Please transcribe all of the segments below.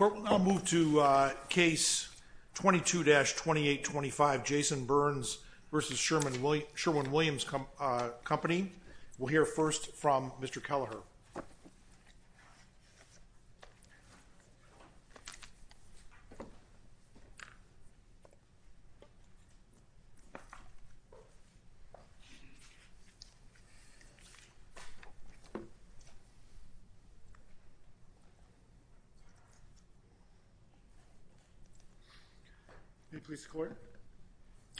We will now move to Case 22-2825, Jason Burns v. Sherwin-Williams Company. We will hear first from Mr. Kelleher. May it please the Court,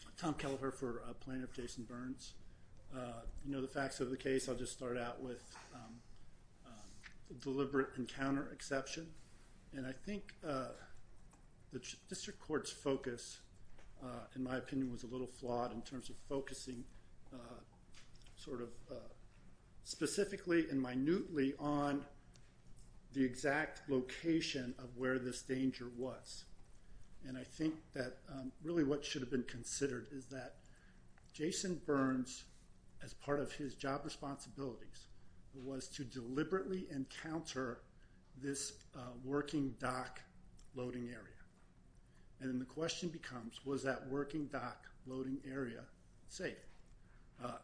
I'm Tom Kelleher for plaintiff Jason Burns. You know the facts of the case, I'll just start out with deliberate encounter exception and I think the District Court's focus in my opinion was a little flawed in terms of focusing sort of specifically and minutely on the exact location of where this danger was and I think that really what should have been considered is that Jason Burns as part of his job responsibilities was to deliberately encounter this working dock loading area and then the question becomes was that working dock loading area safe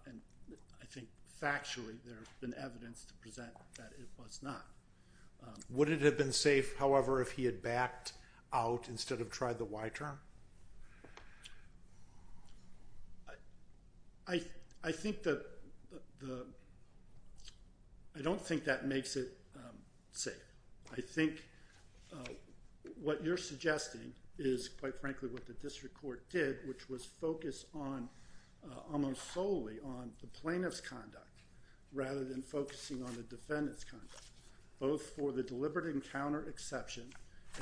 and I think factually there's been evidence to present that it was not. Would it have been safe however if he had backed out instead of tried the why term? I don't think that makes it safe. I think what you're suggesting is quite frankly what the District Court did which was focus on almost solely on the plaintiff's conduct rather than focusing on the defendant's conduct both for the deliberate encounter exception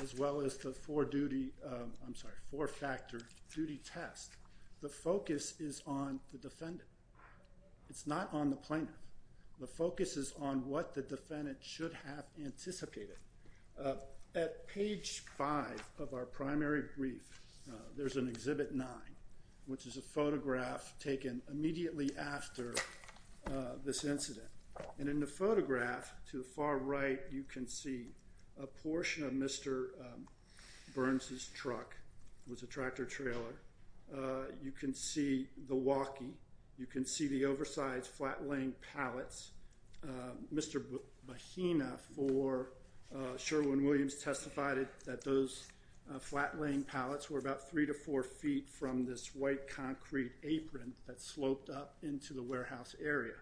as well as the four-factor duty test. The focus is on the defendant. It's not on the plaintiff. The focus is on what the defendant should have anticipated. At page five of our primary brief there's an exhibit nine which is a photograph taken immediately after this incident and in the photograph to the far right you can see a portion of Mr. Burns' truck, it was a tractor-trailer. You can see the walkie. You can see the oversized flat-laying pallets. Mr. Bohina for Sherwin-Williams testified that those flat-laying pallets were about three to four feet from this white concrete apron that sloped up into the warehouse area.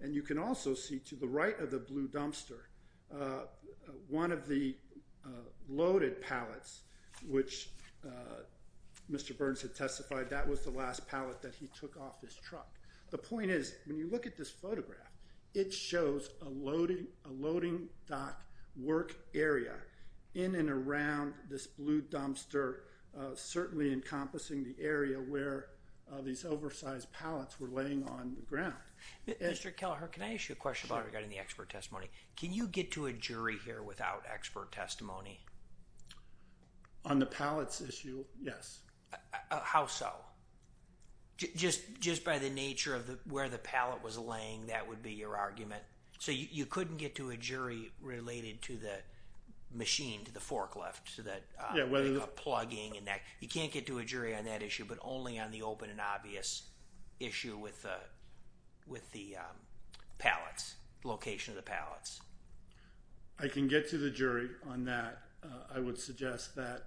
And you can also see to the right of the blue dumpster one of the loaded pallets which Mr. Burns had testified that was the last pallet that he took off his truck. The point is when you look at this photograph it shows a loading dock work area in and around this blue dumpster certainly encompassing the area where these oversized pallets were laying on the ground. Mr. Kelleher, can I ask you a question regarding the expert testimony? Can you get to a jury here without expert testimony? On the pallets issue, yes. How so? Just by the nature of where the pallet was laying that would be your argument? So you couldn't get to a jury related to the machine, to the forklift, to the plugging and that. You can't get to a jury on that issue but only on the open and obvious issue with the pallets, location of the pallets. I can get to the jury on that. I would suggest that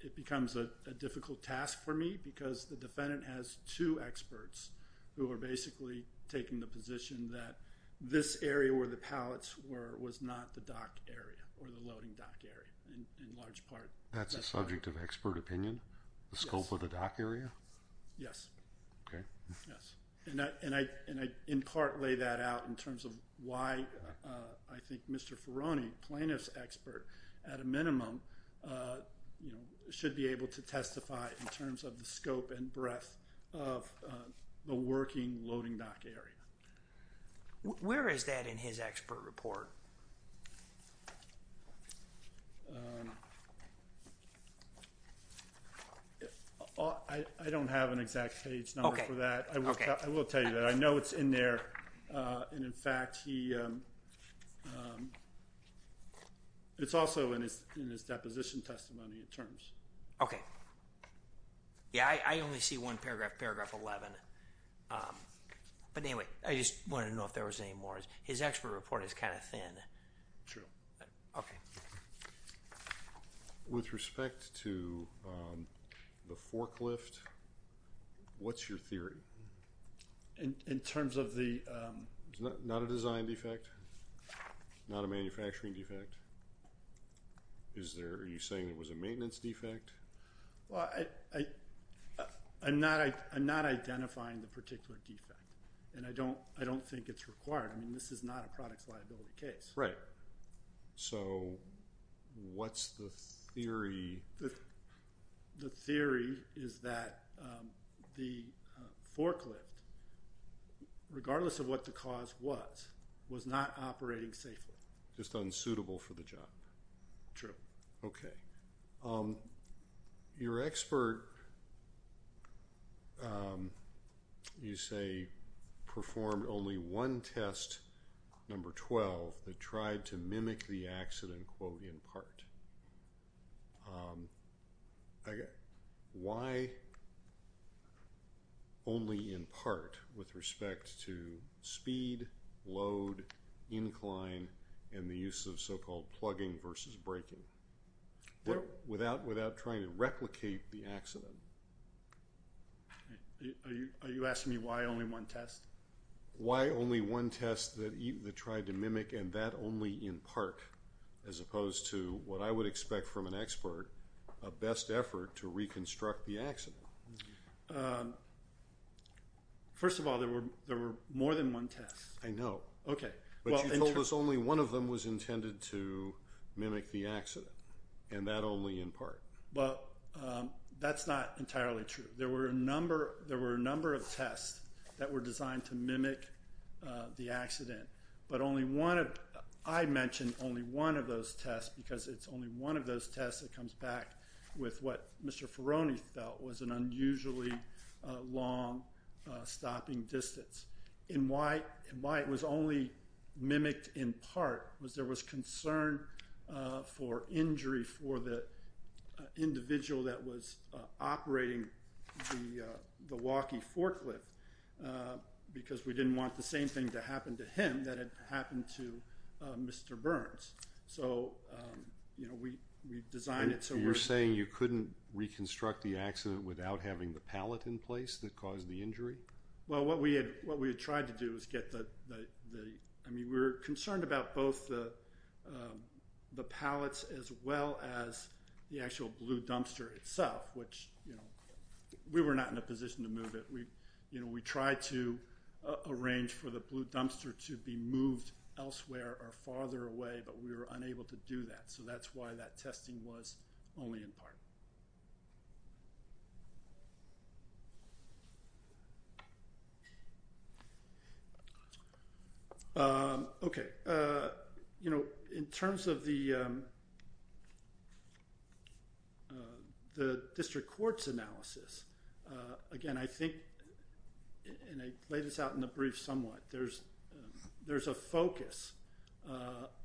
it becomes a difficult task for me because the defendant has two This area where the pallets were was not the dock area or the loading dock area in large part. That's a subject of expert opinion, the scope of the dock area? Yes. Okay. Yes. And I in part lay that out in terms of why I think Mr. Ferroni, plaintiff's expert at a minimum, you know, should be able to testify in terms of the scope and breadth of the working loading dock area. Where is that in his expert report? I don't have an exact page number for that. Okay. I will tell you that. I know it's in there and in fact he, it's also in his deposition testimony in terms. Okay. Yeah, I only see one paragraph, paragraph 11. But anyway, I just wanted to know if there was any more. His expert report is kind of thin. Sure. Okay. With respect to the forklift, what's your theory? In terms of the... Not a design defect? Not a manufacturing defect? Is there, are you saying it was a maintenance defect? Well, I'm not identifying the particular defect and I don't think it's required. I mean, this is not a product's liability case. Right. So, what's the theory? The theory is that the forklift, regardless of what the cause was, was not operating safely. Just unsuitable for the job. True. Okay. Your expert, you say, performed only one test, number 12, that tried to mimic the accident, quote, in part. Why only in part with respect to speed, load, incline, and the use of so-called plugging versus braking? Without trying to replicate the accident. Are you asking me why only one test? Why only one test that tried to mimic and that only in part, as opposed to what I would expect from an expert, a best effort to reconstruct the accident. First of all, there were more than one test. I know. Okay. But you told us only one of them was intended to mimic the accident and that only in part. Well, that's not entirely true. There were a number of tests that were designed to mimic the accident. But only one of—I mentioned only one of those tests because it's only one of those tests that comes back with what Mr. Ferroni felt was an unusually long stopping distance. And why it was only mimicked in part was there was concern for injury for the individual that was operating the walkie forklift because we didn't want the same thing to happen to him that had happened to Mr. Burns. So, you know, we designed it so— You're saying you couldn't reconstruct the accident without having the pallet in place that caused the injury? Well, what we had tried to do was get the—I mean, we were concerned about both the pallets as well as the actual blue dumpster itself, which, you know, we were not in a position to move it. We tried to arrange for the blue dumpster to be moved elsewhere or farther away, but we were unable to do that. So that's why that testing was only in part. Okay. You know, in terms of the district court's analysis, again, I think, and I played this out in the brief somewhat, there's a focus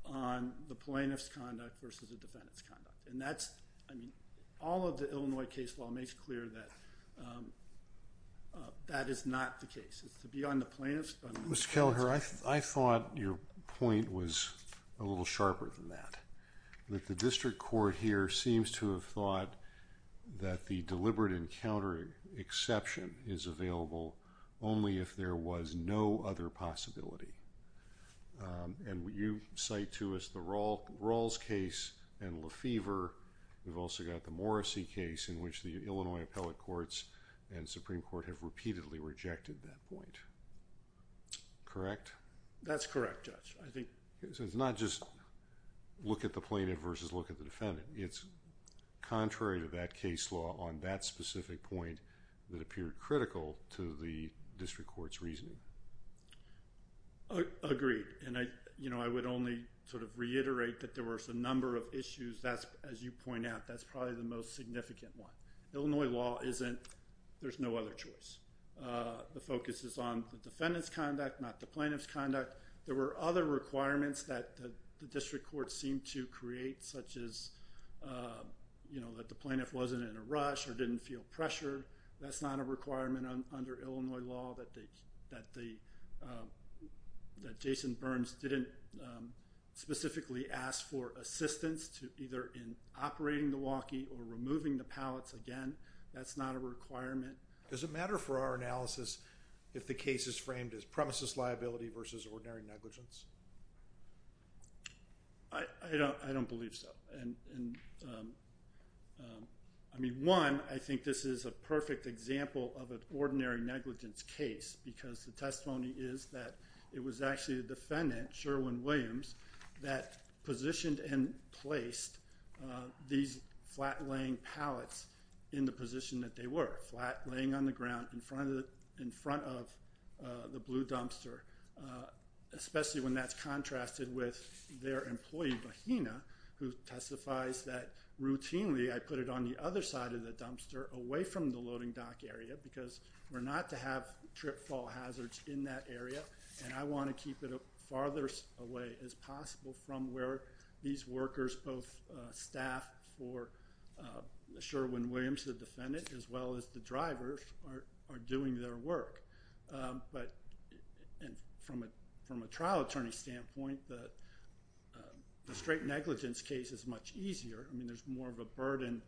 on the plaintiff's conduct versus the defendant's conduct. And that's—I mean, all of the Illinois case law makes clear that that is not the case. It's to be on the plaintiff's— Mr. Kelleher, I thought your point was a little sharper than that, that the district court here seems to have thought that the deliberate encounter exception is available only if there was no other possibility. And you cite to us the Rawls case and Lefevre. We've also got the Morrissey case in which the Illinois appellate courts and Supreme Court have repeatedly rejected that point. Correct? That's correct, Judge. I think— So it's not just look at the plaintiff versus look at the defendant. It's contrary to that case law on that specific point that appeared critical to the district court's reasoning. Agreed. And, you know, I would only sort of reiterate that there was a number of issues. As you point out, that's probably the most significant one. Illinois law isn't—there's no other choice. The focus is on the defendant's conduct, not the plaintiff's conduct. There were other requirements that the district court seemed to create such as, you know, that the plaintiff wasn't in a rush or didn't feel pressured. That's not a requirement under Illinois law that they—that Jason Burns didn't specifically ask for assistance to either in operating the walkie or removing the pallets again. That's not a requirement. Does it matter for our analysis if the case is framed as premises liability versus ordinary negligence? I don't believe so. I mean, one, I think this is a perfect example of an ordinary negligence case because the testimony is that it was actually the defendant, Sherwin Williams, that positioned and placed these flat-laying pallets in the position that they were, flat, laying on the ground in front of the blue dumpster, especially when that's contrasted with their employee, Mahina, who testifies that, routinely, I put it on the other side of the dumpster away from the loading dock area because we're not to have trip-fall hazards in that area, and I want to keep it as far away as possible from where these workers, both staff for Sherwin Williams, the defendant, as well as the drivers, are doing their work. But from a trial attorney standpoint, the straight negligence case is much easier. I mean, there's more of a burden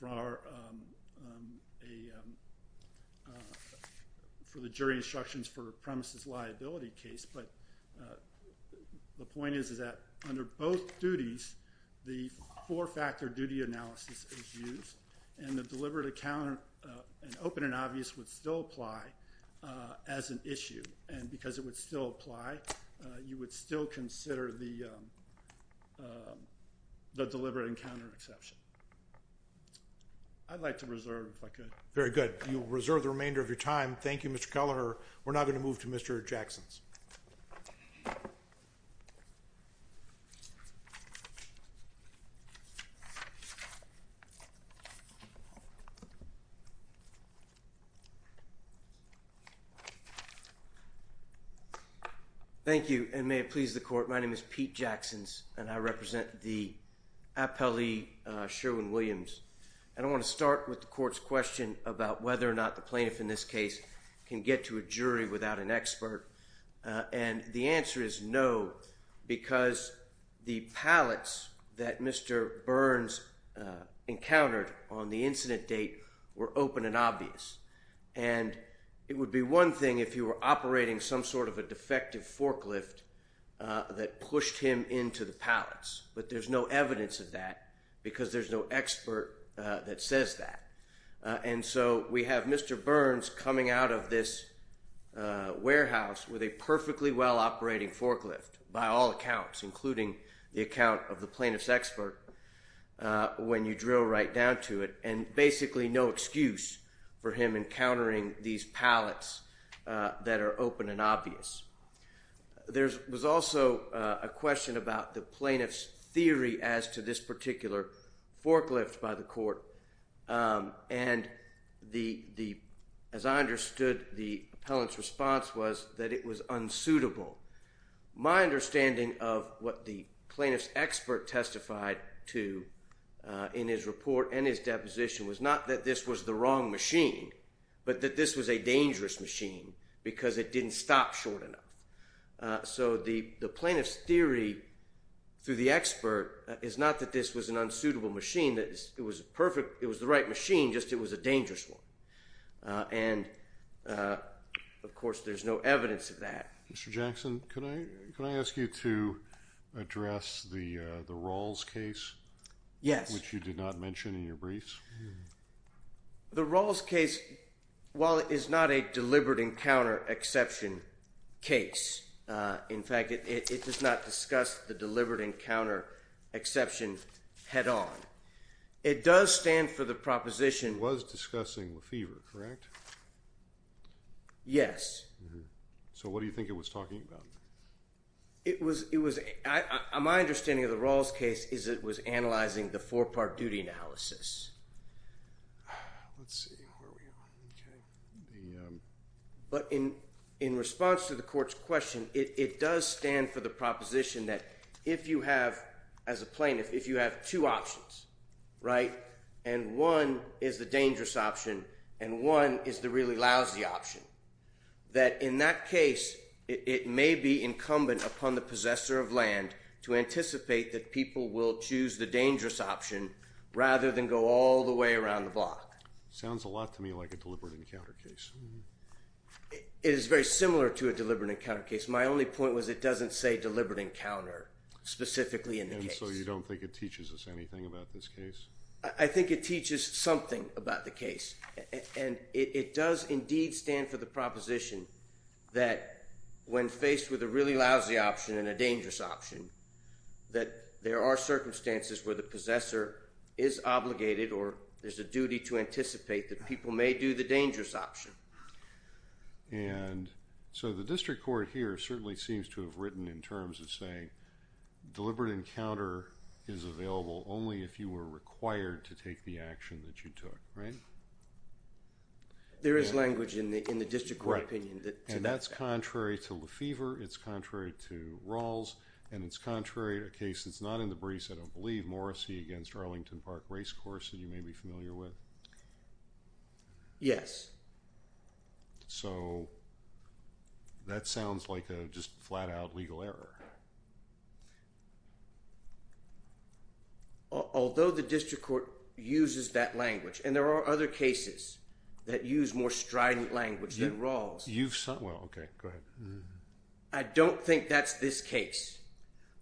for the jury instructions for a premises liability case, but the point is that under both duties, the four-factor duty analysis is used, and the deliberate encounter and open and obvious would still apply as an issue, and because it would still apply, you would still consider the deliberate encounter exception. I'd like to reserve if I could. Very good. You will reserve the remainder of your time. Thank you, Mr. Kelleher. We're now going to move to Mr. Jacksons. Thank you, and may it please the Court. My name is Pete Jacksons, and I represent the appellee, Sherwin Williams, and I want to start with the Court's question about whether or not the plaintiff in this case can get to a jury without an expert, and the answer is no because the pallets that Mr. Burns encountered on the incident date were open and obvious, and it would be one thing if you were operating some sort of a defective forklift that pushed him into the pallets, but there's no evidence of that because there's no expert that says that, and so we have Mr. Burns coming out of this warehouse with a perfectly well-operating forklift by all accounts, including the account of the plaintiff's expert when you drill right down to it, and basically no excuse for him encountering these pallets that are open and obvious. There was also a question about the plaintiff's theory as to this particular forklift by the Court, and as I understood the appellant's response was that it was unsuitable. My understanding of what the plaintiff's expert testified to in his report and his deposition was not that this was the wrong machine, but that this was a dangerous machine because it didn't stop short enough. So the plaintiff's theory through the expert is not that this was an unsuitable machine. It was the right machine, just it was a dangerous one, and of course there's no evidence of that. Mr. Jackson, can I ask you to address the Rawls case? Yes. Which you did not mention in your briefs. The Rawls case, while it is not a deliberate encounter exception case, in fact it does not discuss the deliberate encounter exception head-on, it does stand for the proposition. It was discussing Lefevre, correct? Yes. So what do you think it was talking about? My understanding of the Rawls case is it was analyzing the four-part duty analysis. But in response to the Court's question, it does stand for the proposition that if you have, as a plaintiff, if you have two options, right, and one is the dangerous option and one is the really lousy option, that in that case it may be incumbent upon the possessor of land to anticipate that people will choose the dangerous option rather than go all the way around the block. Sounds a lot to me like a deliberate encounter case. It is very similar to a deliberate encounter case. My only point was it doesn't say deliberate encounter specifically in the case. And so you don't think it teaches us anything about this case? I think it teaches something about the case. It does indeed stand for the proposition that when faced with a really lousy option and a dangerous option, that there are circumstances where the possessor is obligated or there's a duty to anticipate that people may do the dangerous option. And so the district court here certainly seems to have written in terms of saying deliberate encounter is available only if you were required to take the action that you took, right? There is language in the district court opinion to that effect. And that's contrary to Lefevre, it's contrary to Rawls, and it's contrary to a case that's not in the briefs, I don't believe, Morrissey against Arlington Park Racecourse that you may be familiar with. Yes. So that sounds like a just flat-out legal error. Although the district court uses that language, and there are other cases that use more strident language than Rawls. You've said, well, okay, go ahead. I don't think that's this case,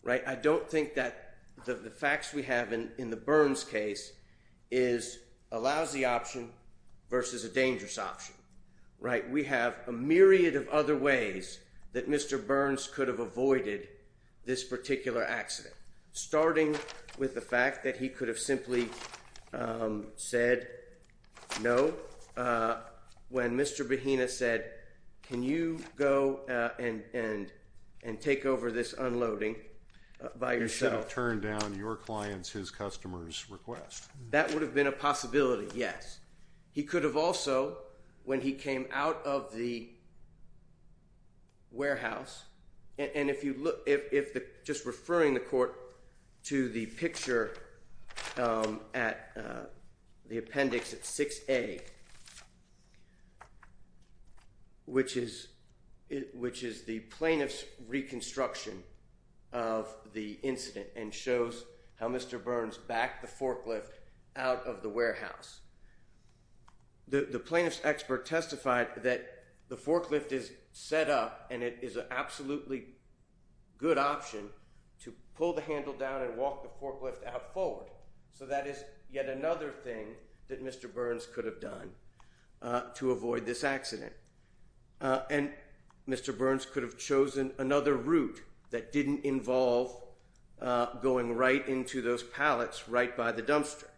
right? I don't think that the facts we have in the Burns case is a lousy option versus a dangerous option, right? We have a myriad of other ways that Mr. Burns could have avoided this particular accident, starting with the fact that he could have simply said no when Mr. Behena said, can you go and take over this unloading by yourself? You should have turned down your client's, his customer's request. That would have been a possibility, yes. He could have also, when he came out of the warehouse, and if you look, just referring the court to the picture at the appendix at 6A, which is the plaintiff's reconstruction of the incident and shows how Mr. Burns backed the forklift out of the warehouse. The plaintiff's expert testified that the forklift is set up and it is an absolutely good option to pull the handle down and walk the forklift out forward. So that is yet another thing that Mr. Burns could have done to avoid this accident. And Mr. Burns could have chosen another route that didn't involve going right into those pallets right by the dumpster.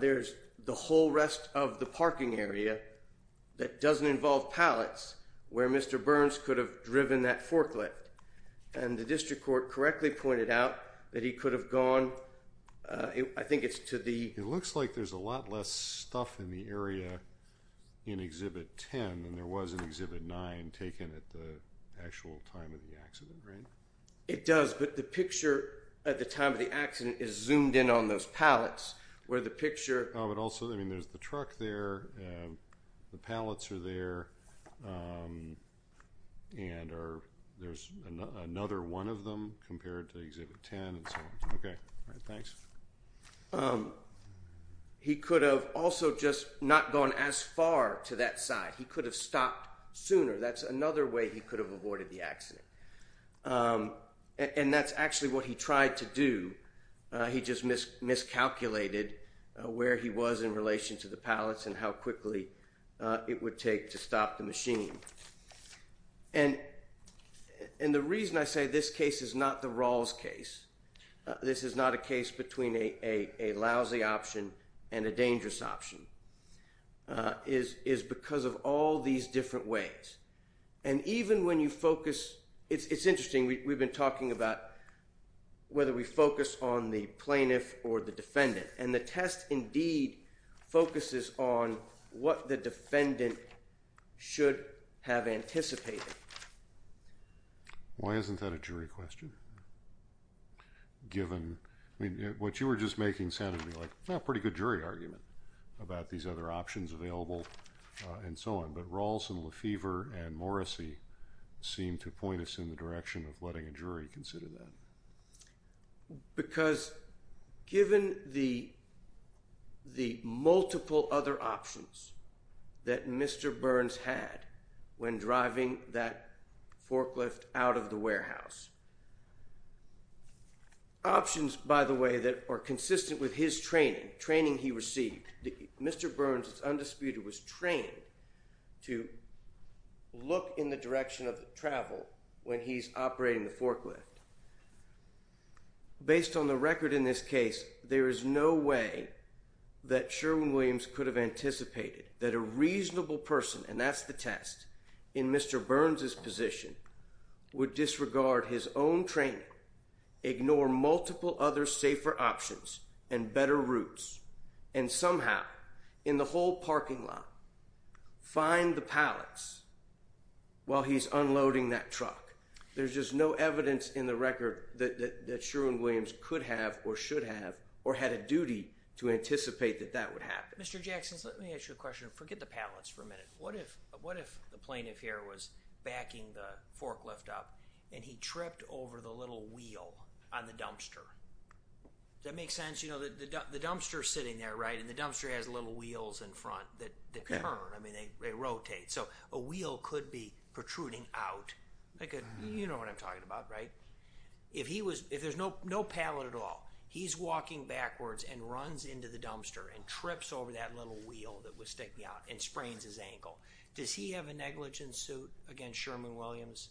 There's the whole rest of the parking area that doesn't involve pallets where Mr. Burns could have driven that forklift. And the district court correctly pointed out that he could have gone, I think it's to the... It looks like there's a lot less stuff in the area in Exhibit 10 than there was in Exhibit 9 taken at the actual time of the accident, right? It does, but the picture at the time of the accident is zoomed in on those pallets where the picture... Oh, but also, I mean, there's the truck there, the pallets are there, and there's another one of them compared to Exhibit 10 and so on. Okay. All right, thanks. He could have also just not gone as far to that side. He could have stopped sooner. That's another way he could have avoided the accident. And that's actually what he tried to do. He just miscalculated where he was in relation to the pallets and how quickly it would take to stop the machine. And the reason I say this case is not the Rawls case, this is not a case between a lousy option and a dangerous option, is because of all these different ways. And even when you focus... It's interesting, we've been talking about whether we focus on the plaintiff or the defendant, and the test indeed focuses on what the defendant should have anticipated. Why isn't that a jury question? Given... I mean, what you were just making sounded to me like a pretty good jury argument about these other options available and so on, but Rawls and Lefevre and Morrissey seem to point us in the direction of letting a jury consider that. Because given the multiple other options that Mr. Burns had when driving that forklift out of the warehouse, options, by the way, that are consistent with his training, training he received, Mr. Burns, it's undisputed, was trained to look in the direction of the travel when he's operating the forklift. Based on the record in this case, there is no way that Sherwin-Williams could have anticipated that a reasonable person, and that's the test, in Mr. Burns' position, would disregard his own training, ignore multiple other safer options and better routes, and somehow, in the whole parking lot, find the pallets while he's unloading that truck. There's just no evidence in the record that Sherwin-Williams could have or should have or had a duty to anticipate that that would happen. Mr. Jackson, let me ask you a question. Forget the pallets for a minute. What if the plaintiff here was backing the forklift up and he tripped over the little wheel on the dumpster? Does that make sense? You know, the dumpster's sitting there, right? And the dumpster has little wheels in front that turn. I mean, they rotate. So, a wheel could be protruding out. You know what I'm talking about, right? If there's no pallet at all, he's walking backwards and runs into the dumpster and trips over that little wheel that was sticking out and sprains his ankle. Does he have a negligence suit against Sherwin-Williams?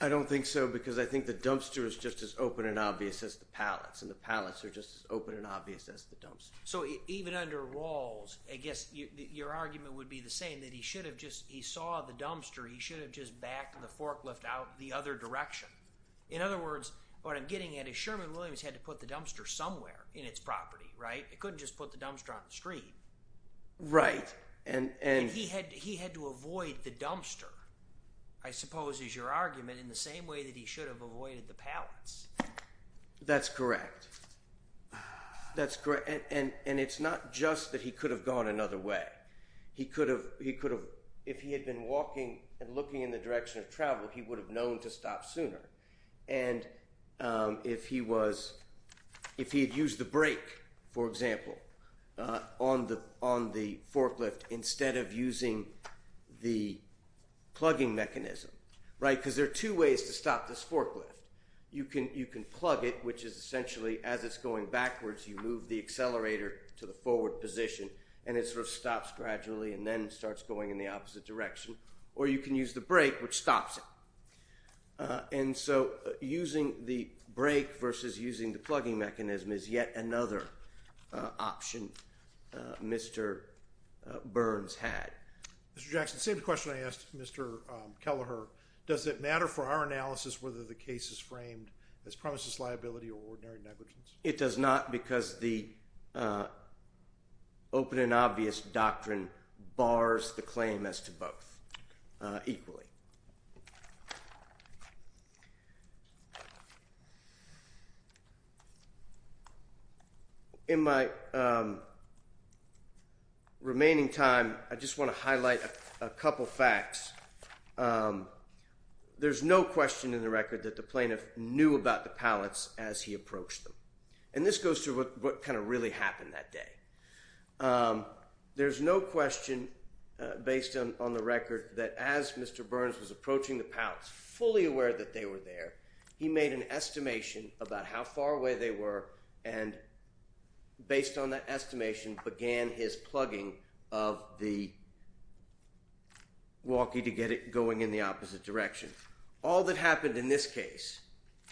I don't think so because I think the dumpster is just as open and obvious as the pallets and the pallets are just as open and obvious as the dumpster. So, even under Rawls, I guess your argument would be the same, that he should have just, he saw the dumpster, he should have just backed the forklift out the other direction. In other words, what I'm getting at is Sherwin-Williams had to put the dumpster somewhere in its property, right? It couldn't just put the dumpster on the street. Right. And he had to avoid the dumpster, I suppose, is your argument, in the same way that he should have avoided the pallets. That's correct. That's correct. And it's not just that he could have gone another way. He could have, if he had been walking and looking in the direction of travel, he would have known to stop sooner. And if he was, if he had used the brake, for example, on the forklift instead of using the plugging mechanism, right? Because there are two ways to stop this forklift. You can plug it, which is essentially, as it's going backwards, you move the accelerator to the forward position and it sort of stops gradually and then starts going in the opposite direction. Or you can use the brake, which stops it. And so using the brake versus using the plugging mechanism is yet another option Mr. Burns had. Mr. Jackson, same question I asked Mr. Kelleher. Does it matter for our analysis whether the case is framed as premises liability or ordinary negligence? It does not because the open and obvious doctrine bars the claim as to both equally. In my remaining time, I just want to highlight a couple of facts. There's no question in the record that the plaintiff knew about the pallets as he approached them. And this goes to what kind of really happened that day. There's no question, based on the record, that as Mr. Burns was approaching the pallets, fully aware that they were there, he made an estimation about how far away they were and, based on that estimation, began his plugging of the walkie to get it going in the opposite direction. All that happened in this case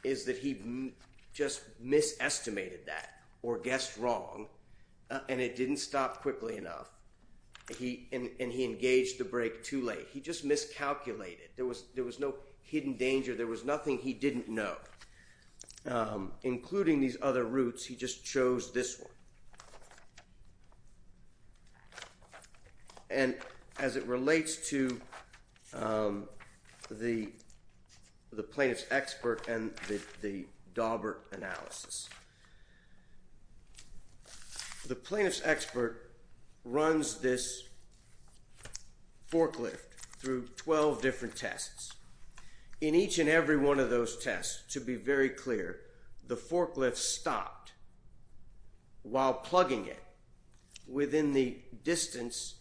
is that he just misestimated that or guessed wrong, and it didn't stop quickly enough. And he engaged the brake too late. He just miscalculated. There was no hidden danger. There was nothing he didn't know. Including these other routes, he just chose this one. And as it relates to the plaintiff's expert and the Daubert analysis, the plaintiff's expert runs this forklift through 12 different tests. In each and every one of those tests, to be very clear, the forklift stopped while plugging it within the distance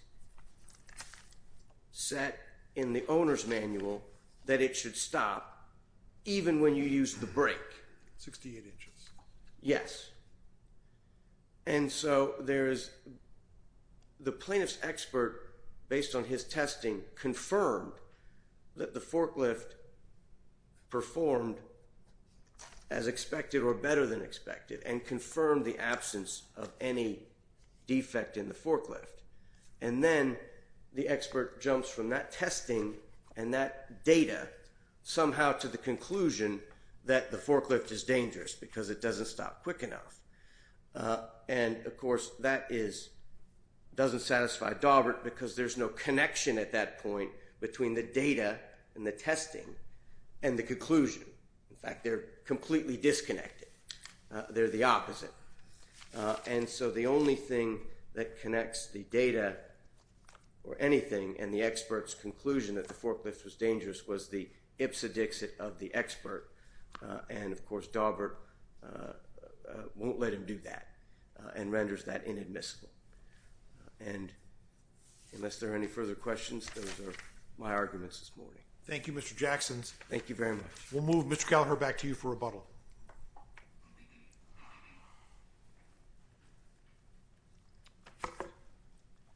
set in the owner's manual that it should stop even when you use the brake. 68 inches. Yes. And so the plaintiff's expert, based on his testing, confirmed that the forklift performed as expected or better than expected and confirmed the absence of any defect in the forklift. And then the expert jumps from that testing and that data somehow to the conclusion that the forklift is dangerous because it doesn't stop quick enough. And, of course, that doesn't satisfy Daubert because there's no connection at that point between the data and the testing and the conclusion. In fact, they're completely disconnected. They're the opposite. And so the only thing that connects the data or anything and the expert's conclusion that the forklift was dangerous was the ipsedixit of the expert. And, of course, Daubert won't let him do that and renders that inadmissible. And unless there are any further questions, those are my arguments this morning. Thank you, Mr. Jackson. Thank you very much. We'll move Mr. Gallagher back to you for rebuttal.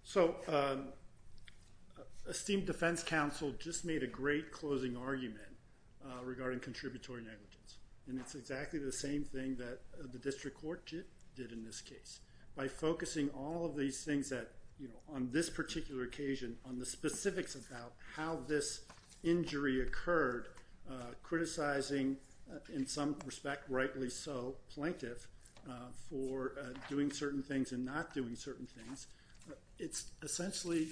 So esteemed defense counsel just made a great closing argument regarding contributory negligence, and it's exactly the same thing that the district court did in this case. By focusing all of these things that, you know, on this particular occasion, on the specifics about how this injury occurred, criticizing, in some respect, rightly so, plaintiff for doing certain things and not doing certain things, it's essentially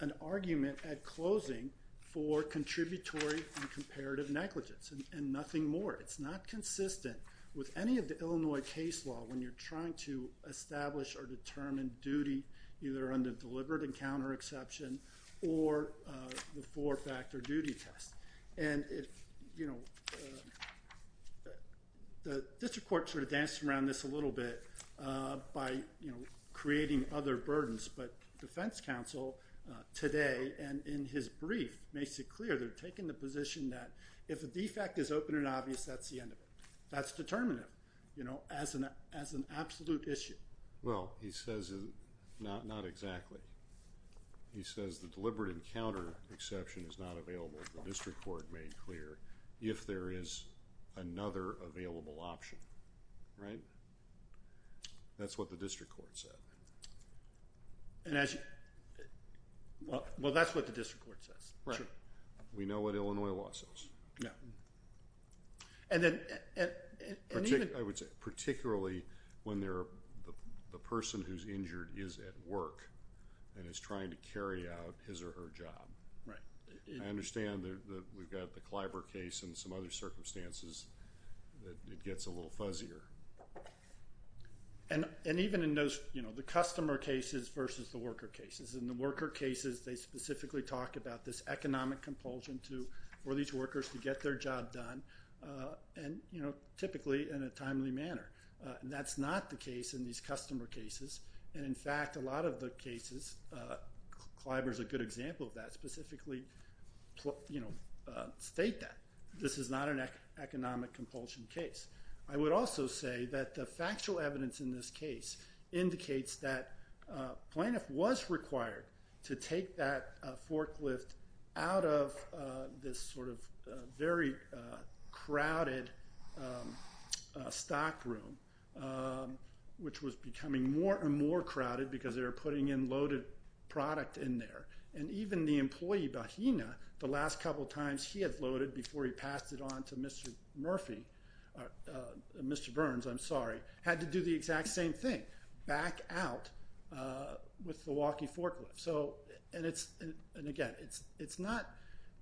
an argument at closing for contributory and comparative negligence and nothing more. It's not consistent with any of the Illinois case law when you're trying to establish or determine duty either under deliberate encounter exception or the four-factor duty test. And, you know, the district court sort of danced around this a little bit by, you know, creating other burdens. But defense counsel today and in his brief makes it clear they're taking the position that if a defect is open and obvious, that's the end of it. That's determinative, you know, as an absolute issue. Well, he says not exactly. He says the deliberate encounter exception is not available, the district court made clear, if there is another available option, right? That's what the district court said. Well, that's what the district court says. Right. We know what Illinois law says. Yeah. I would say particularly when the person who's injured is at work and is trying to carry out his or her job. Right. I understand that we've got the Clybur case and some other circumstances that it gets a little fuzzier. And even in those, you know, the customer cases versus the worker cases. In the worker cases, they specifically talk about this economic compulsion for these workers to get their job done and, you know, typically in a timely manner. That's not the case in these customer cases. And, in fact, a lot of the cases, Clybur's a good example of that, specifically state that. This is not an economic compulsion case. I would also say that the factual evidence in this case indicates that plaintiff was required to take that forklift out of this sort of very crowded stock room, which was becoming more and more crowded because they were putting in loaded product in there. And even the employee, Bahina, the last couple of times he had loaded before he passed it on to Mr. Murphy, Mr. Burns, I'm sorry, had to do the exact same thing, back out with the walkie forklift. And, again,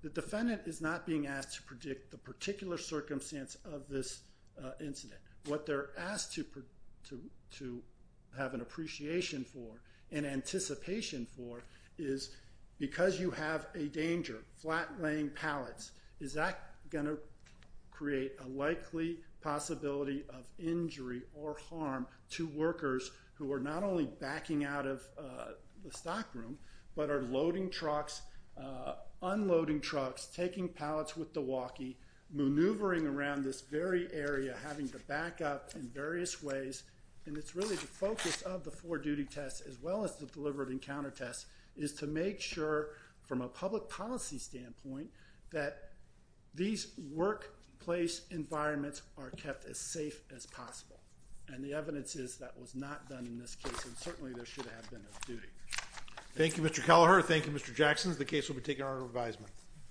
the defendant is not being asked to predict the particular circumstance of this incident. What they're asked to have an appreciation for and anticipation for is because you have a danger, flat-laying pallets, is that going to create a likely possibility of injury or harm to workers who are not only backing out of the stock room but are loading trucks, unloading trucks, taking pallets with the walkie, maneuvering around this very area, having to back up in various ways. And it's really the focus of the four-duty test, as well as the deliberate encounter test, is to make sure from a public policy standpoint that these workplace environments are kept as safe as possible. And the evidence is that was not done in this case, and certainly there should have been a duty. Thank you, Mr. Kelleher. Thank you, Mr. Jackson. The case will be taken in order of advisement.